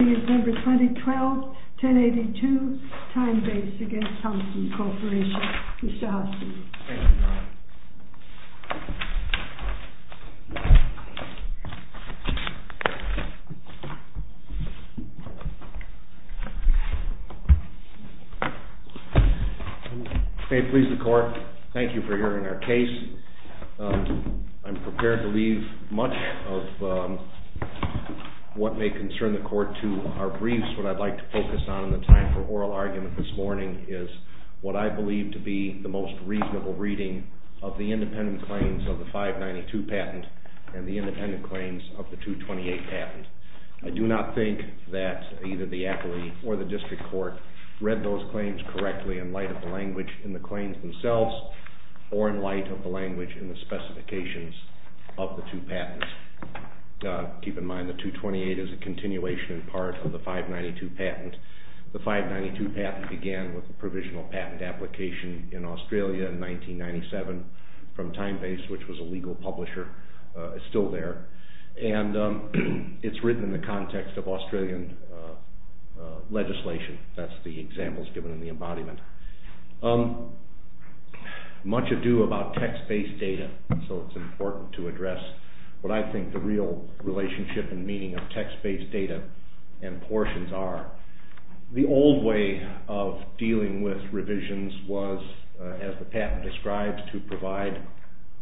November 2012, 10-82, TimeBASE v. Thomson Corporation. Mr. Hostin. May it please the court, thank you for hearing our case. I'm prepared to leave much of what may concern the court to our briefs. What I'd like to focus on in the time for oral argument this morning is what I believe to be the most reasonable reading of the case. of the independent claims of the 592 patent and the independent claims of the 228 patent. I do not think that either the appellee or the district court read those claims correctly in light of the language in the claims themselves or in light of the language in the specifications of the two patents. Keep in mind the 228 is a continuation in part of the 592 patent. The 592 patent began with a provisional patent application in Australia in 1997 from TimeBASE which was a legal publisher. It's still there and it's written in the context of Australian legislation. That's the examples given in the embodiment. Much ado about text-based data, so it's important to address what I think the real relationship and meaning of text-based data and portions are. The old way of dealing with revisions was, as the patent describes, to provide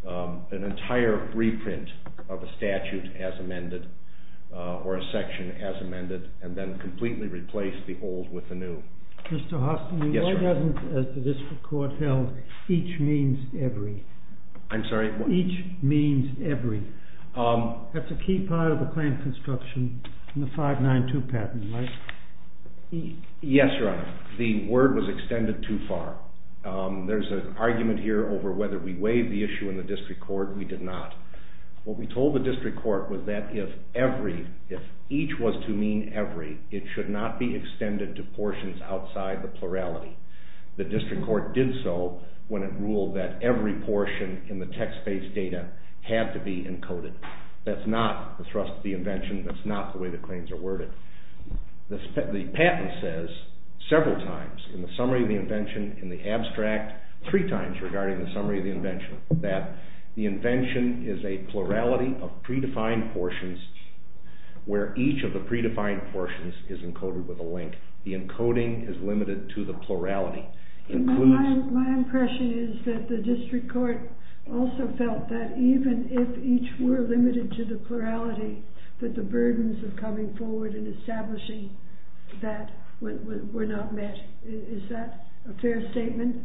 an entire reprint of a statute as amended or a section as amended and then completely replace the old with the new. Mr. Hostin, why doesn't, as the district court held, each means every? I'm sorry? Each means every. That's a key part of the claim construction in the 592 patent, right? Yes, Your Honor. The word was extended too far. There's an argument here over whether we weighed the issue in the district court. We did not. What we told the district court was that if each was to mean every, it should not be extended to portions outside the plurality. The district court did so when it ruled that every portion in the text-based data had to be encoded. That's not the thrust of the invention. That's not the way the claims are worded. The patent says several times in the summary of the invention, in the abstract, three times regarding the summary of the invention, that the invention is a plurality of predefined portions where each of the predefined portions is encoded with a link. The encoding is limited to the plurality. My impression is that the district court also felt that even if each were limited to the plurality, that the burdens of coming forward and establishing that were not met. Is that a fair statement?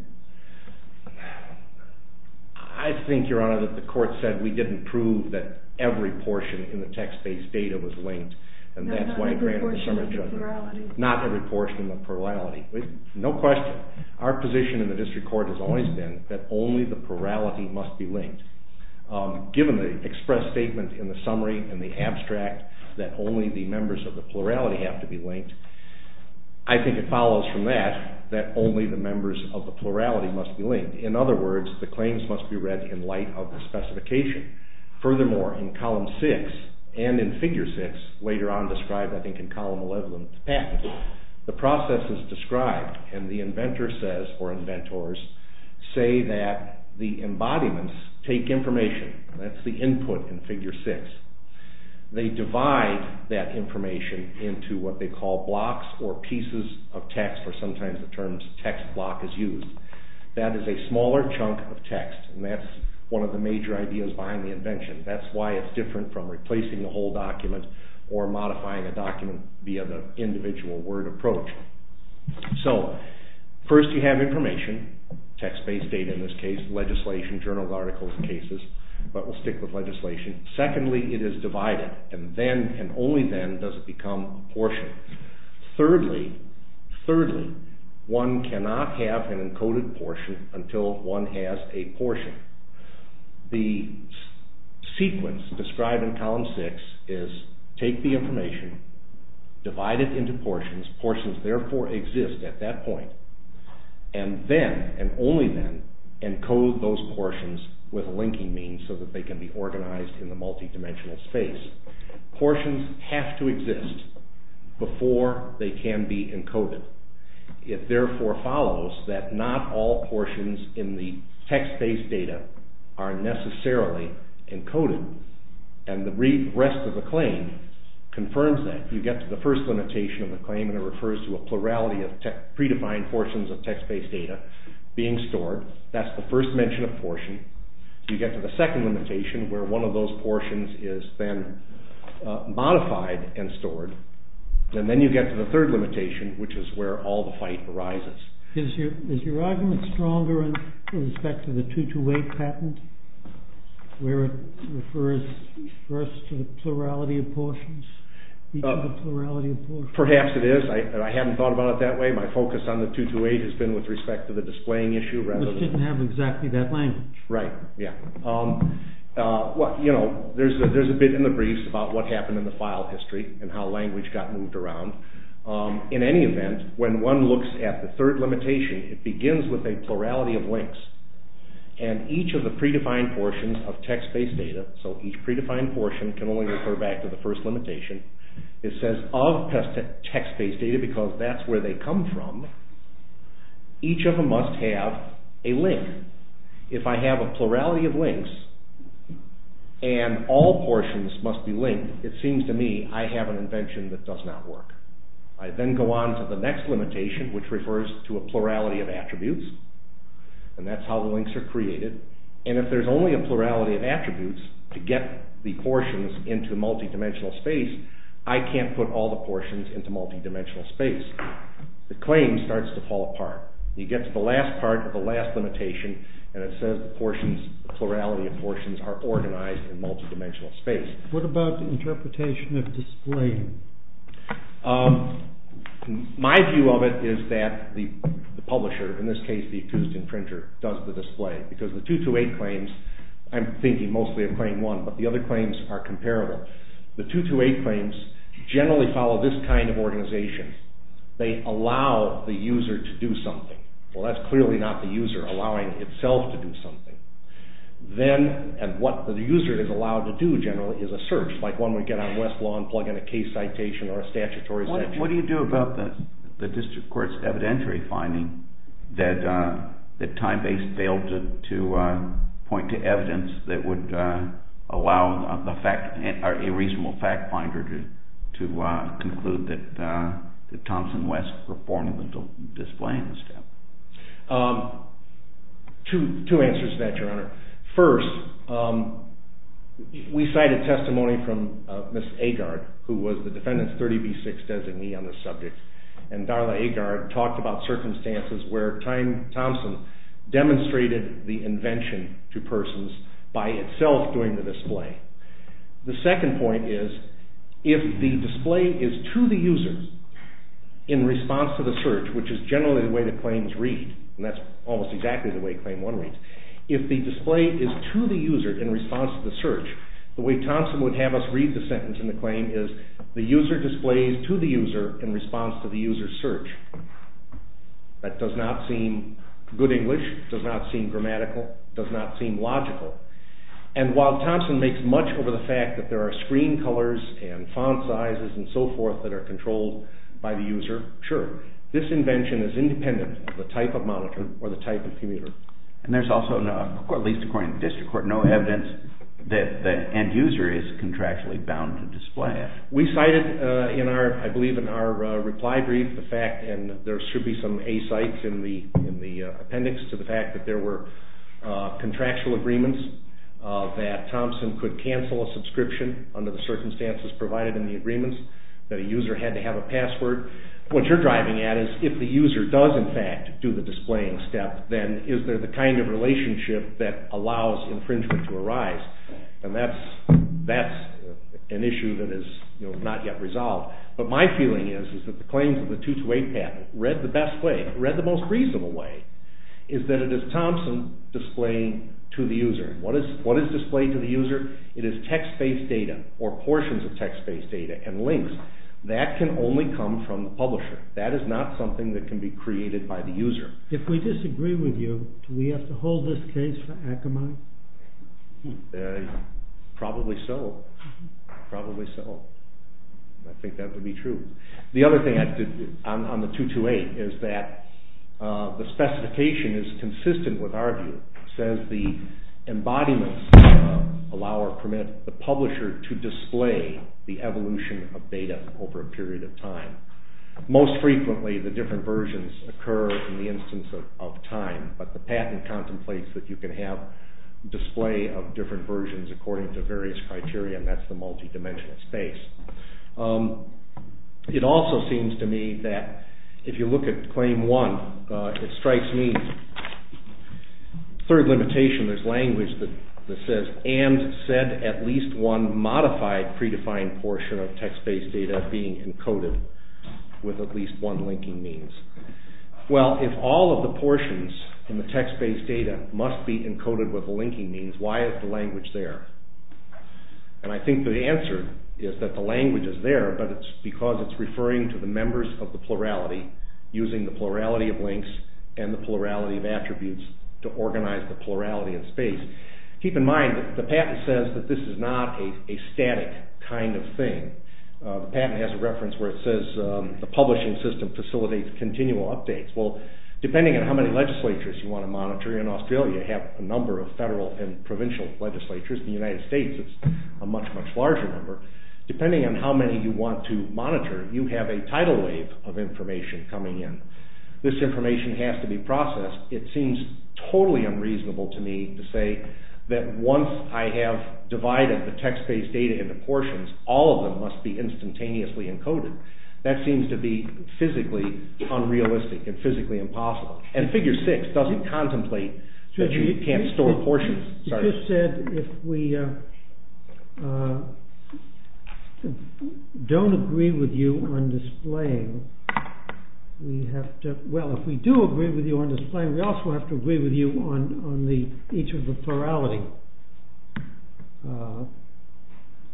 I think, Your Honor, that the court said we didn't prove that every portion in the text-based data was linked, and that's why it granted summary judgment. Not every portion in the plurality. No question. Our position in the district court has always been that only the plurality must be linked. Given the express statement in the summary and the abstract that only the members of the plurality have to be linked, I think it follows from that that only the members of the plurality must be linked. In other words, the claims must be read in light of the specification. Furthermore, in Column 6 and in Figure 6, later on described I think in Column 11, the process is described and the inventor says, or inventors, say that the embodiments take information. That's the input in Figure 6. They divide that information into what they call blocks or pieces of text, or sometimes the terms text block is used. That is a smaller chunk of text, and that's one of the major ideas behind the invention. That's why it's different from replacing a whole document or modifying a document via the individual word approach. So, first you have information, text-based data in this case, legislation, journals, articles, and cases, but we'll stick with legislation. Secondly, it is divided, and only then does it become portion. Thirdly, one cannot have an encoded portion until one has a portion. The sequence described in Column 6 is take the information, divide it into portions, portions therefore exist at that point, and then, and only then, encode those portions with linking means so that they can be organized in the multidimensional space. Portions have to exist before they can be encoded. It therefore follows that not all portions in the text-based data are necessarily encoded, and the rest of the claim confirms that. You get to the first limitation of the claim, and it refers to a plurality of predefined portions of text-based data being stored. That's the first mention of portion. You get to the second limitation, where one of those portions is then modified and stored, and then you get to the third limitation, which is where all the fight arises. Is your argument stronger in respect to the 228 patent, where it refers first to the plurality of portions? Perhaps it is. I haven't thought about it that way. My focus on the 228 has been with respect to the displaying issue rather than... Which didn't have exactly that language. Right. There's a bit in the briefs about what happened in the file history and how language got moved around. In any event, when one looks at the third limitation, it begins with a plurality of links, and each of the predefined portions of text-based data, so each predefined portion can only refer back to the first limitation, it says of text-based data because that's where they come from, each of them must have a link. If I have a plurality of links, and all portions must be linked, it seems to me I have an invention that does not work. I then go on to the next limitation, which refers to a plurality of attributes, and that's how the links are created, and if there's only a plurality of attributes to get the portions into multidimensional space, I can't put all the portions into multidimensional space. The claim starts to fall apart. You get to the last part of the last limitation, and it says the portions, the plurality of portions are organized in multidimensional space. What about the interpretation of display? My view of it is that the publisher, in this case the accused infringer, does the display, because the 228 claims, I'm thinking mostly of claim one, but the other claims are comparable. The 228 claims generally follow this kind of organization. They allow the user to do something. Well, that's clearly not the user allowing itself to do something. Then, and what the user is allowed to do generally is a search, like one would get on Westlaw and plug in a case citation or a statutory section. What do you do about the district court's evidentiary finding that Timebase failed to point to evidence that would allow a reasonable fact finder to conclude that Thompson West performed the display in this case? Two answers to that, Your Honor. First, we cited testimony from Ms. Agard, who was the defendant's 30B6 designee on this subject, and Darla Agard talked about circumstances where Time Thompson demonstrated the invention to persons by itself doing the display. The second point is, if the display is to the user in response to the search, which is generally the way the claims read, and that's almost exactly the way claim one reads, if the display is to the user in response to the search, the way Thompson would have us read the sentence in the claim is, the user displays to the user in response to the user's search. That does not seem good English, does not seem grammatical, does not seem logical, and while Thompson makes much of the fact that there are screen colors and font sizes and so forth that are controlled by the user, sure, this invention is independent of the type of monitor or the type of commuter. And there's also, at least according to the district court, no evidence that the end user is contractually bound to display. We cited, I believe, in our reply brief the fact, and there should be some A-cites in the appendix, to the fact that there were contractual agreements that Thompson could cancel a subscription under the circumstances provided in the agreements, that a user had to have a password. What you're driving at is, if the user does, in fact, do the displaying step, then is there the kind of relationship that allows infringement to arise? And that's an issue that is not yet resolved. But my feeling is that the claims of the 228 patent, read the best way, read the most reasonable way, is that it is Thompson displaying to the user. What is displayed to the user? It is text-based data or portions of text-based data and links. That can only come from the publisher. That is not something that can be created by the user. If we disagree with you, do we have to hold this case for Akamai? Probably so. Probably so. I think that would be true. The other thing on the 228 is that the specification is consistent with our view. It says the embodiments allow or permit the publisher to display the evolution of data over a period of time. Most frequently, the different versions occur in the instance of time, but the patent contemplates that you can have display of different versions according to various criteria, and that's the multi-dimensional space. It also seems to me that if you look at claim one, it strikes me, third limitation, there's language that says, and said at least one modified predefined portion of text-based data being encoded with at least one linking means. Well, if all of the portions in the text-based data must be encoded with linking means, why is the language there? I think the answer is that the language is there, but it's because it's referring to the members of the plurality using the plurality of links and the plurality of attributes to organize the plurality of space. Keep in mind that the patent says that this is not a static kind of thing. The patent has a reference where it says the publishing system facilitates continual updates. Well, depending on how many legislatures you want to monitor, in Australia you have a number of federal and provincial legislatures. In the United States, it's a much, much larger number. Depending on how many you want to monitor, you have a tidal wave of information coming in. This information has to be processed. It seems totally unreasonable to me to say that once I have divided the text-based data into portions, all of them must be instantaneously encoded. That seems to be physically unrealistic and physically impossible. And Figure 6 doesn't contemplate that you can't store portions. You just said if we don't agree with you on displaying, we have to… Well, if we do agree with you on displaying, we also have to agree with you on each of the plurality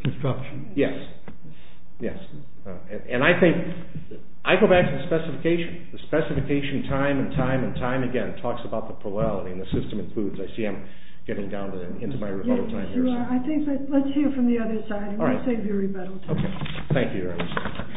constructions. Yes, yes. And I think, I go back to the specification. The specification time and time and time again talks about the plurality and the system includes. I see I'm getting down into my rebuttal time here. Yes, you are. Let's hear from the other side and we'll save you rebuttal time. Thank you, Your Honor.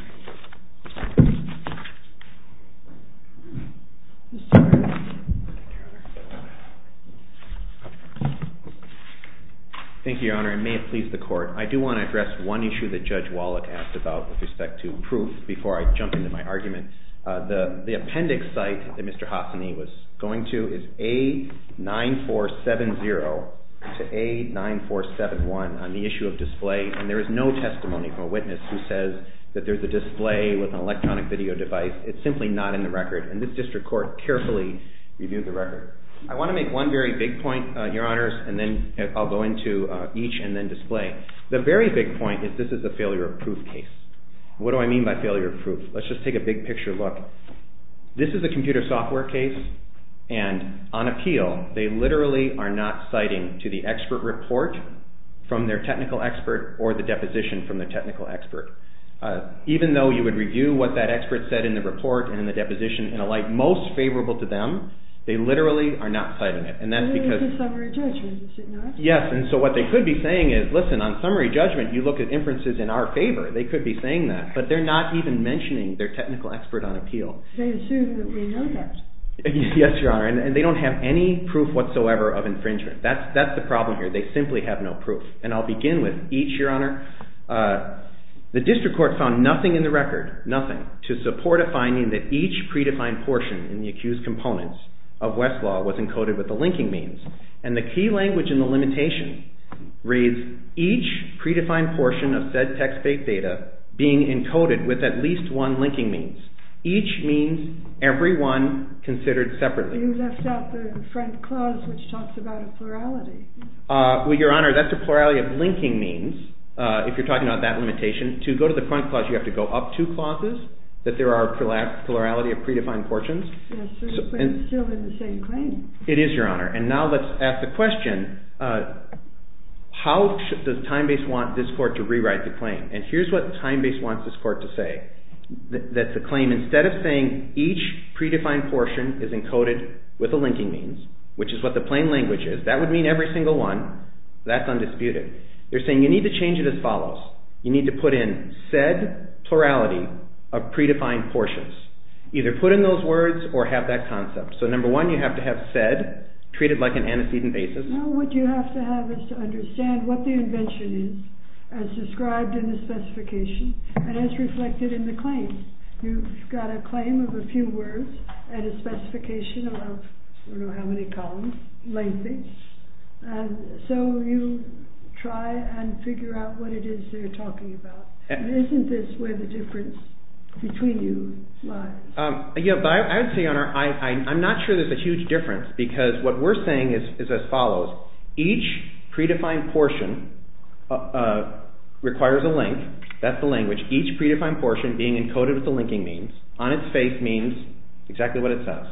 Thank you, Your Honor. It may have pleased the Court. I do want to address one issue that Judge Wallach asked about with respect to proof before I jump into my argument. The appendix site that Mr. Hassany was going to is A9470 to A9471 on the issue of display. And there is no testimony from a witness who says that there's a display with an electronic video device. It's simply not in the record. And this district court carefully reviewed the record. I want to make one very big point, Your Honors, and then I'll go into each and then display. The very big point is this is a failure of proof case. What do I mean by failure of proof? Let's just take a big picture look. This is a computer software case and on appeal, they literally are not citing to the expert report from their technical expert or the deposition from their technical expert. Even though you would review what that expert said in the report and in the deposition and alike, most favorable to them, they literally are not citing it. And that's because… Maybe they can suffer a judgment, is it not? Yes, and so what they could be saying is, listen, on summary judgment, you look at inferences in our favor, they could be saying that. But they're not even mentioning their technical expert on appeal. They assume that we know that. Yes, Your Honor. And they don't have any proof whatsoever of infringement. That's the problem here. They simply have no proof. And I'll begin with each, Your Honor. The district court found nothing in the record, nothing, to support a finding that each predefined portion in the accused components of Westlaw was encoded with the linking means. And the key language in the limitation reads, each predefined portion of said text-based data being encoded with at least one linking means. Each means, every one considered separately. You left out the front clause, which talks about a plurality. Well, Your Honor, that's a plurality of linking means, if you're talking about that limitation. To go to the front clause, you have to go up two clauses, that there are plurality of predefined portions. Yes, but it's still in the same claim. It is, Your Honor. And now let's ask the question, how does TimeBase want this court to rewrite the claim? And here's what TimeBase wants this court to say. That the claim, instead of saying each predefined portion is encoded with the linking means, which is what the plain language is, that would mean every single one, that's undisputed. They're saying you need to change it as follows. You need to put in said plurality of predefined portions. Either put in those words or have that concept. So number one, you have to have said, treated like an antecedent basis. No, what you have to have is to understand what the invention is, as described in the specification, and as reflected in the claim. You've got a claim of a few words and a specification of I don't know how many columns, lengthy. And so you try and figure out what it is they're talking about. And isn't this where the difference between you lies? I would say, Your Honor, I'm not sure there's a huge difference because what we're saying is as follows. Each predefined portion requires a link. That's the language. Each predefined portion being encoded with the linking means. On its face means exactly what it says.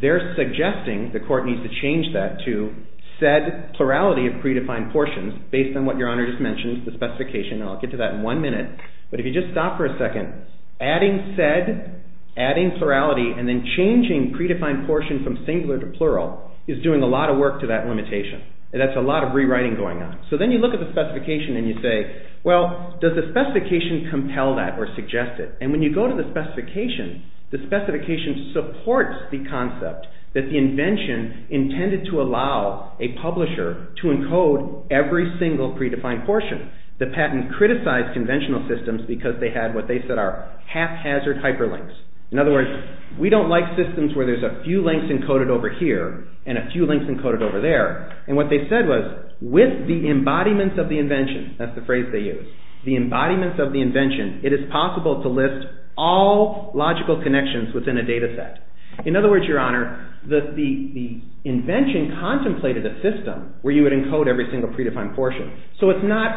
They're suggesting the court needs to change that to said plurality of predefined portions based on what Your Honor just mentioned, the specification. And I'll get to that in one minute. But if you just stop for a second, adding said, adding plurality, and then changing predefined portion from singular to plural is doing a lot of work to that limitation. And that's a lot of rewriting going on. So then you look at the specification and you say, Well, does the specification compel that or suggest it? And when you go to the specification, the specification supports the concept that the invention intended to allow a publisher to encode every single predefined portion. The patent criticized conventional systems because they had what they said are haphazard hyperlinks. In other words, we don't like systems where there's a few links encoded over here and a few links encoded over there. And what they said was with the embodiment of the invention, that's the phrase they used, the embodiment of the invention, it is possible to list all logical connections within a data set. In other words, Your Honor, the invention contemplated a system where you would encode every single predefined portion. So it's not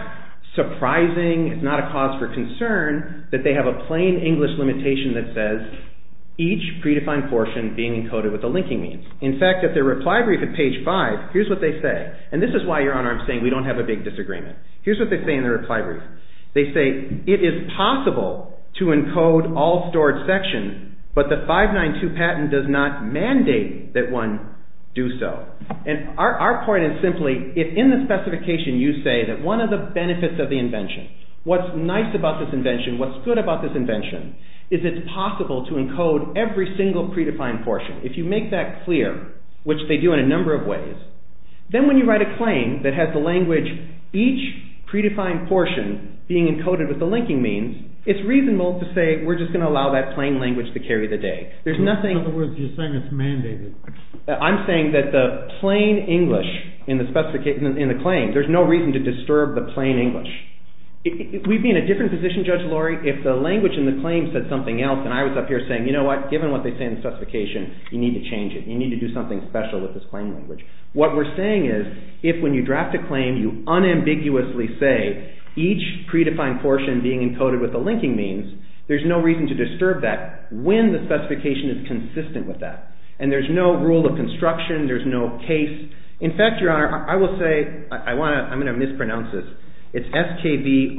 surprising, it's not a cause for concern that they have a plain English limitation that says each predefined portion being encoded with the linking means. In fact, at their reply brief at page five, here's what they say. And this is why, Your Honor, I'm saying we don't have a big disagreement. Here's what they say in their reply brief. They say it is possible to encode all stored sections, but the 592 patent does not mandate that one do so. And our point is simply, if in the specification you say that one of the benefits of the invention, what's nice about this invention, what's good about this invention, is it's possible to encode every single predefined portion. If you make that clear, which they do in a number of ways, then when you write a claim that has the language, each predefined portion being encoded with the linking means, it's reasonable to say we're just going to allow that plain language to carry the day. In other words, you're saying it's mandated. I'm saying that the plain English in the claim, there's no reason to disturb the plain English. We'd be in a different position, Judge Laurie, if the language in the claim said something else and I was up here saying, you know what, given what they say in the specification, you need to change it. You need to do something special with this plain language. What we're saying is if when you draft a claim you unambiguously say each predefined portion being encoded with the linking means, there's no reason to disturb that when the specification is consistent with that. And there's no rule of construction. There's no case. In fact, Your Honor, I will say, I'm going to mispronounce this. It's S-K-V-O-R-E-C-Z.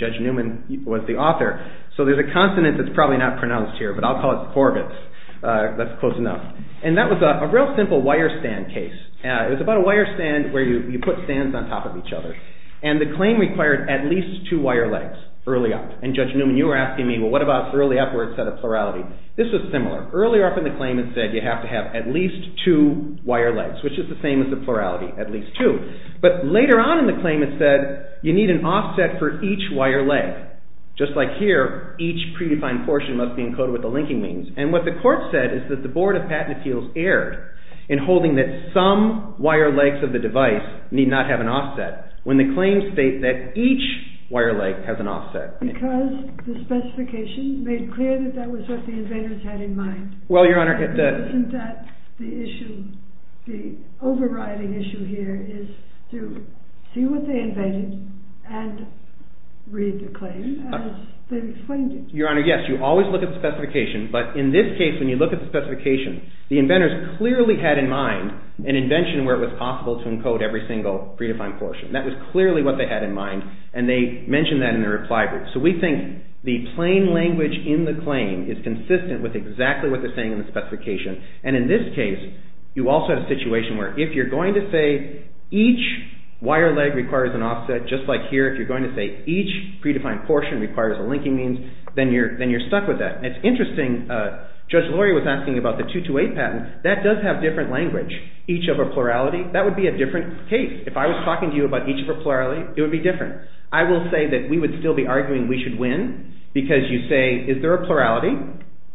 Judge Newman was the author. So there's a consonant that's probably not pronounced here, but I'll call it Corbett's. That's close enough. And that was a real simple wire stand case. It was about a wire stand where you put stands on top of each other. And the claim required at least two wire legs early on. And Judge Newman, you were asking me, well, what about early upwards set of plurality? This was similar. Earlier up in the claim it said you have to have at least two wire legs, which is the same as the plurality, at least two. But later on in the claim it said you need an offset for each wire leg. Just like here, each predefined portion must be encoded with the linking means. And what the court said is that the Board of Patent Appeals erred in holding that some wire legs of the device need not have an offset when the claims state that each wire leg has an offset. Because the specification made clear that that was what the invaders had in mind. Well, Your Honor, the issue, the overriding issue here is to see what they invaded and read the claim as they explained it. Your Honor, yes, you always look at the specification, but in this case when you look at the specification, the inventors clearly had in mind an invention where it was possible to encode every single predefined portion. That was clearly what they had in mind, and they mentioned that in their reply group. So we think the plain language in the claim is consistent with exactly what they're saying in the specification. And in this case, you also have a situation where if you're going to say each wire leg requires an offset, just like here, if you're going to say each predefined portion requires a linking means, then you're stuck with that. And it's interesting, Judge Lurie was asking about the 228 patent. That does have different language. Each of a plurality, that would be a different case. If I was talking to you about each of a plurality, it would be different. I will say that we would still be arguing we should win because you say is there a plurality?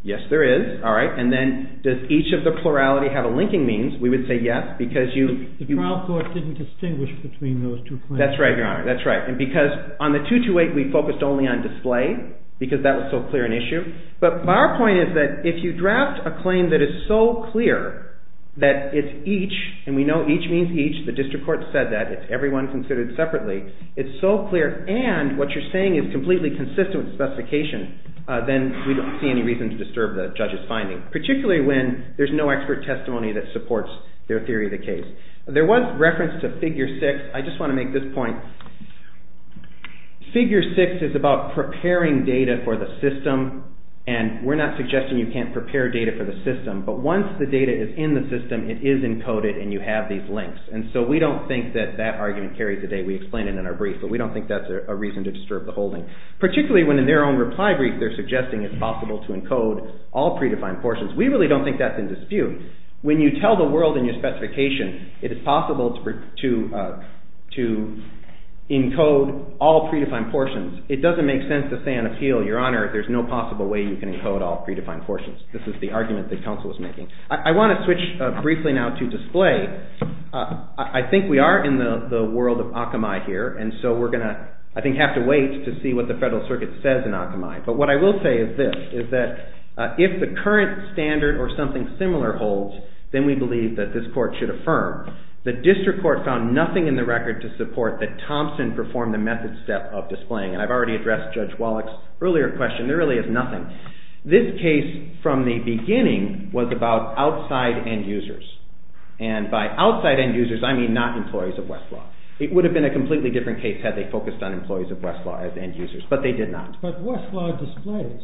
Yes, there is. All right. And then does each of the plurality have a linking means? We would say yes because you… The trial court didn't distinguish between those two claims. That's right, Your Honor. That's right. And because on the 228, we focused only on display because that was so clear an issue. But our point is that if you draft a claim that is so clear that it's each, and we know each means each. The district court said that. It's everyone considered separately. It's so clear, and what you're saying is completely consistent with the specification, then we don't see any reason to disturb the judge's finding, particularly when there's no expert testimony that supports their theory of the case. There was reference to figure six. I just want to make this point. Figure six is about preparing data for the system, and we're not suggesting you can't prepare data for the system. But once the data is in the system, it is encoded, and you have these links. And so we don't think that that argument carried today. We explained it in our brief, but we don't think that's a reason to disturb the holding, particularly when in their own reply brief they're suggesting it's possible to encode all predefined portions. We really don't think that's in dispute. When you tell the world in your specification it is possible to encode all predefined portions, it doesn't make sense to say on appeal, Your Honor, there's no possible way you can encode all predefined portions. This is the argument that counsel was making. I want to switch briefly now to display. I think we are in the world of Akamai here, and so we're going to, I think, have to wait to see what the Federal Circuit says in Akamai. But what I will say is this, is that if the current standard or something similar holds, then we believe that this court should affirm. The district court found nothing in the record to support that Thompson performed the method step of displaying. I've already addressed Judge Wallach's earlier question. There really is nothing. This case, from the beginning, was about outside end users. And by outside end users, I mean not employees of Westlaw. It would have been a completely different case had they focused on employees of Westlaw as end users. But they did not. But Westlaw displays.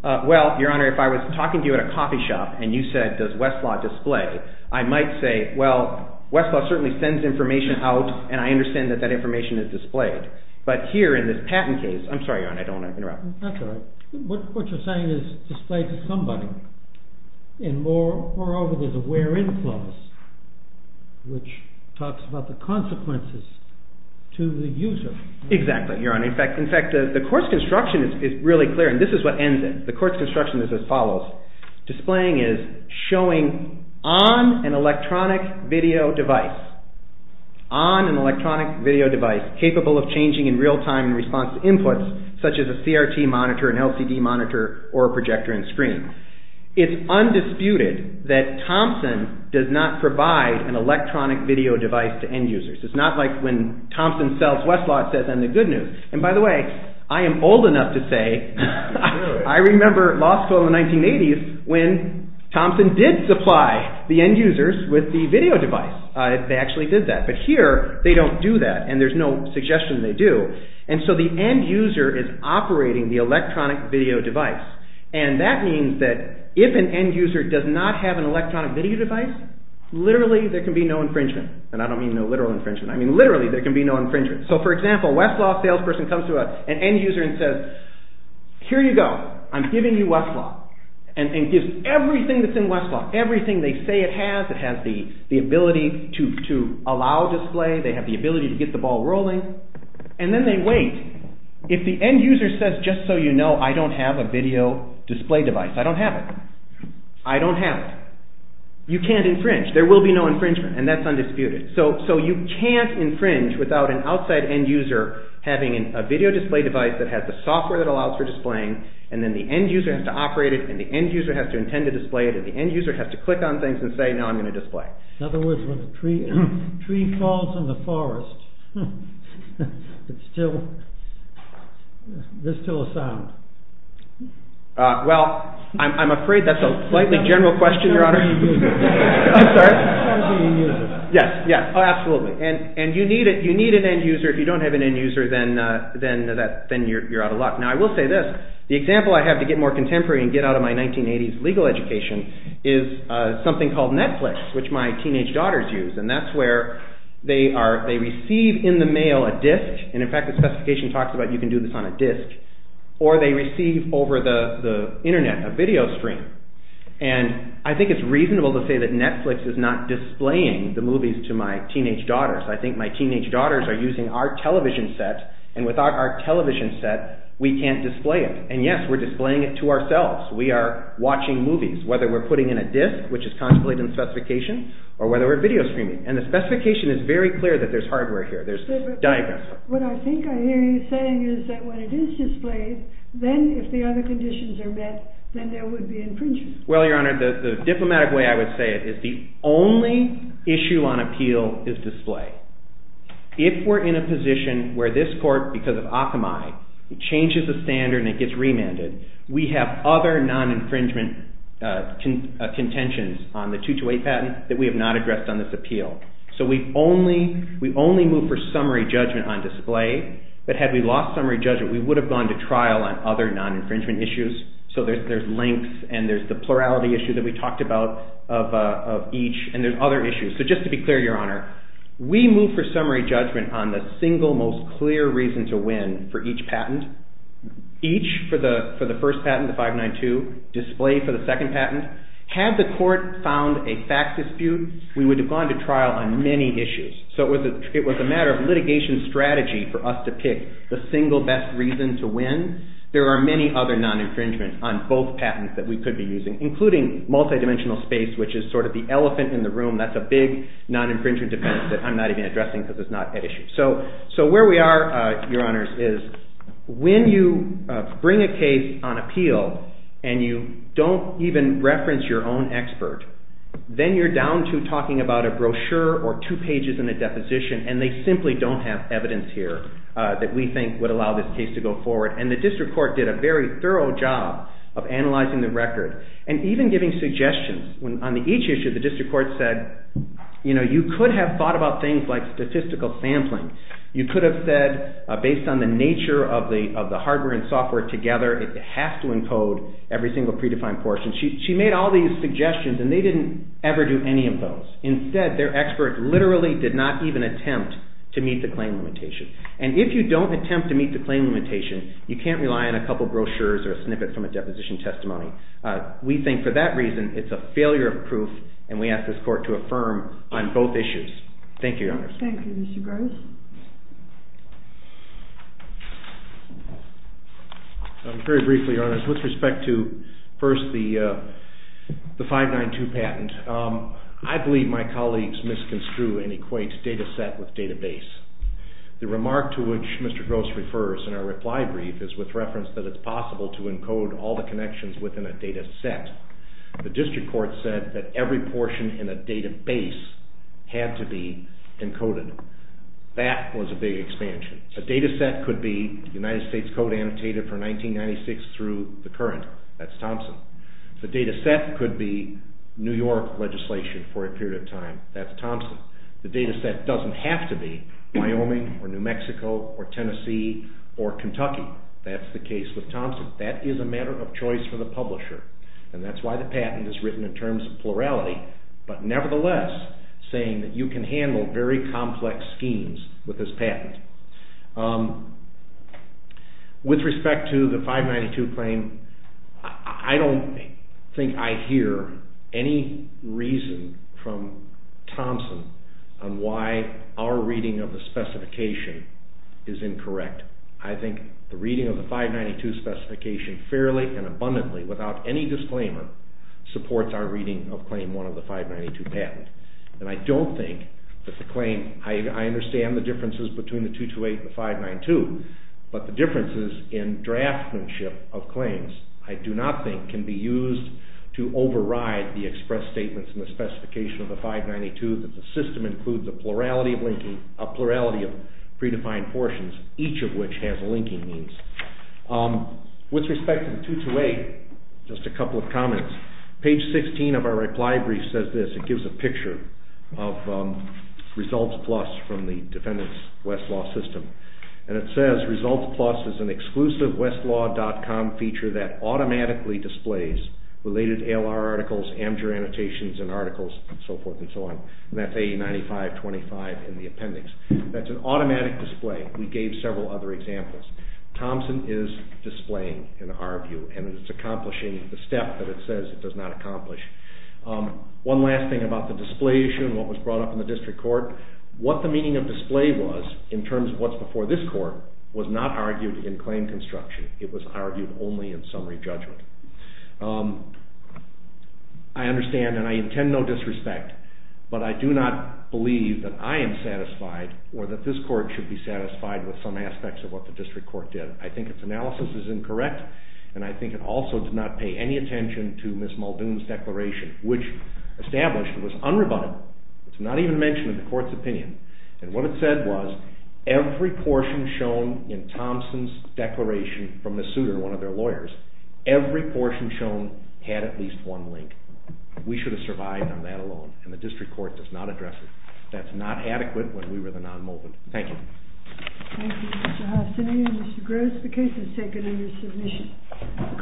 Well, Your Honor, if I was talking to you at a coffee shop and you said, does Westlaw display? I might say, well, Westlaw certainly sends information out, and I understand that that information is displayed. But here in this patent case, I'm sorry, Your Honor, I don't want to interrupt. That's all right. What you're saying is displayed to somebody. And moreover, there's a where-in clause, which talks about the consequences to the user. Exactly, Your Honor. In fact, the court's construction is really clear, and this is what ends it. The court's construction is as follows. Displaying is showing on an electronic video device, capable of changing in real time in response to inputs, such as a CRT monitor, an LCD monitor, or a projector and screen. It's undisputed that Thompson does not provide an electronic video device to end users. It's not like when Thompson sells Westlaw, it says on the good news. And by the way, I am old enough to say I remember law school in the 1980s when Thompson did supply the end users with the video device. They actually did that. But here, they don't do that, and there's no suggestion they do. And so the end user is operating the electronic video device. And that means that if an end user does not have an electronic video device, literally there can be no infringement. And I don't mean no literal infringement. I mean literally there can be no infringement. So for example, a Westlaw salesperson comes to an end user and says, here you go, I'm giving you Westlaw. And gives everything that's in Westlaw. Everything they say it has. It has the ability to allow display. They have the ability to get the ball rolling. And then they wait. If the end user says, just so you know, I don't have a video display device. I don't have it. I don't have it. You can't infringe. There will be no infringement. And that's undisputed. So you can't infringe without an outside end user having a video display device that has the software that allows for displaying. And then the end user has to operate it. And the end user has to intend to display it. And the end user has to click on things and say, no, I'm going to display. In other words, when a tree falls in the forest, there's still a sound. Well, I'm afraid that's a slightly general question, Your Honor. I'm sorry? Yes, absolutely. And you need an end user. If you don't have an end user, then you're out of luck. Now, I will say this. The example I have to get more contemporary and get out of my 1980s legal education is something called Netflix, which my teenage daughters use. And that's where they receive in the mail a disk. And in fact, the specification talks about you can do this on a disk. Or they receive over the Internet a video stream. And I think it's reasonable to say that Netflix is not displaying the movies to my teenage daughters. I think my teenage daughters are using our television set. And without our television set, we can't display it. And, yes, we're displaying it to ourselves. We are watching movies, whether we're putting in a disk, which is contemplated in the specification, or whether we're video streaming. And the specification is very clear that there's hardware here. There's diagrams. What I think I hear you saying is that when it is displayed, then if the other conditions are met, then there would be infringement. Well, Your Honor, the diplomatic way I would say it is the only issue on appeal is display. If we're in a position where this court, because of Akamai, changes the standard and it gets remanded, we have other non-infringement contentions on the 228 patent that we have not addressed on this appeal. So we only move for summary judgment on display. But had we lost summary judgment, we would have gone to trial on other non-infringement issues. So there's links, and there's the plurality issue that we talked about of each, and there's other issues. So just to be clear, Your Honor, we move for summary judgment on the single most clear reason to win for each patent. Each for the first patent, the 592, display for the second patent. Had the court found a fact dispute, we would have gone to trial on many issues. So it was a matter of litigation strategy for us to pick the single best reason to win. There are many other non-infringement on both patents that we could be using, including multi-dimensional space, which is sort of the elephant in the room. That's a big non-infringement defense that I'm not even addressing because it's not at issue. So where we are, Your Honors, is when you bring a case on appeal and you don't even reference your own expert, then you're down to talking about a brochure or two pages in a deposition, and they simply don't have evidence here that we think would allow this case to go forward. And the district court did a very thorough job of analyzing the record and even giving suggestions. On each issue, the district court said, you know, you could have thought about things like statistical sampling. You could have said, based on the nature of the hardware and software together, it has to encode every single predefined portion. She made all these suggestions, and they didn't ever do any of those. Instead, their expert literally did not even attempt to meet the claim limitation. And if you don't attempt to meet the claim limitation, you can't rely on a couple brochures or a snippet from a deposition testimony. We think, for that reason, it's a failure of proof, and we ask this court to affirm on both issues. Thank you, Your Honors. Thank you, Mr. Gross. Very briefly, Your Honors, with respect to, first, the 592 patent, I believe my colleagues misconstrue and equate data set with database. The remark to which Mr. Gross refers in our reply brief is with reference that it's possible to encode all the connections within a data set. The district court said that every portion in a database had to be encoded. That was a big expansion. A data set could be United States Code annotated for 1996 through the current. That's Thompson. The data set could be New York legislation for a period of time. That's Thompson. The data set doesn't have to be Wyoming or New Mexico or Tennessee or Kentucky. That's the case with Thompson. That is a matter of choice for the publisher, and that's why the patent is written in terms of plurality, but nevertheless saying that you can handle very complex schemes with this patent. With respect to the 592 claim, I don't think I hear any reason from Thompson on why our reading of the specification is incorrect. I think the reading of the 592 specification fairly and abundantly without any disclaimer supports our reading of Claim 1 of the 592 patent. I understand the differences between the 228 and the 592, but the differences in draftsmanship of claims I do not think can be used to override the express statements in the specification of the 592 that the system includes a plurality of predefined portions, each of which has linking means. With respect to the 228, just a couple of comments. Page 16 of our reply brief says this. It gives a picture of ResultsPlus from the Defendant's Westlaw system, and it says, ResultsPlus is an exclusive westlaw.com feature that automatically displays related ALR articles, Amdure annotations and articles, and so forth and so on. That's 809525 in the appendix. That's an automatic display. We gave several other examples. Thompson is displaying, in our view, and it's accomplishing the step that it says it does not accomplish. One last thing about the display issue and what was brought up in the district court. What the meaning of display was in terms of what's before this court was not argued in claim construction. It was argued only in summary judgment. I understand and I intend no disrespect, but I do not believe that I am satisfied or that this court should be satisfied with some aspects of what the district court did. I think its analysis is incorrect, and I think it also did not pay any attention to Ms. Muldoon's declaration, which established it was unrebuttable. It's not even mentioned in the court's opinion. And what it said was every portion shown in Thompson's declaration from Ms. Souter, one of their lawyers, every portion shown had at least one link. We should have survived on that alone, and the district court does not address it. That's not adequate when we were the non-Muldoon. Thank you. Thank you, Mr. Hastinian. Mr. Gross, the case is taken in your submission.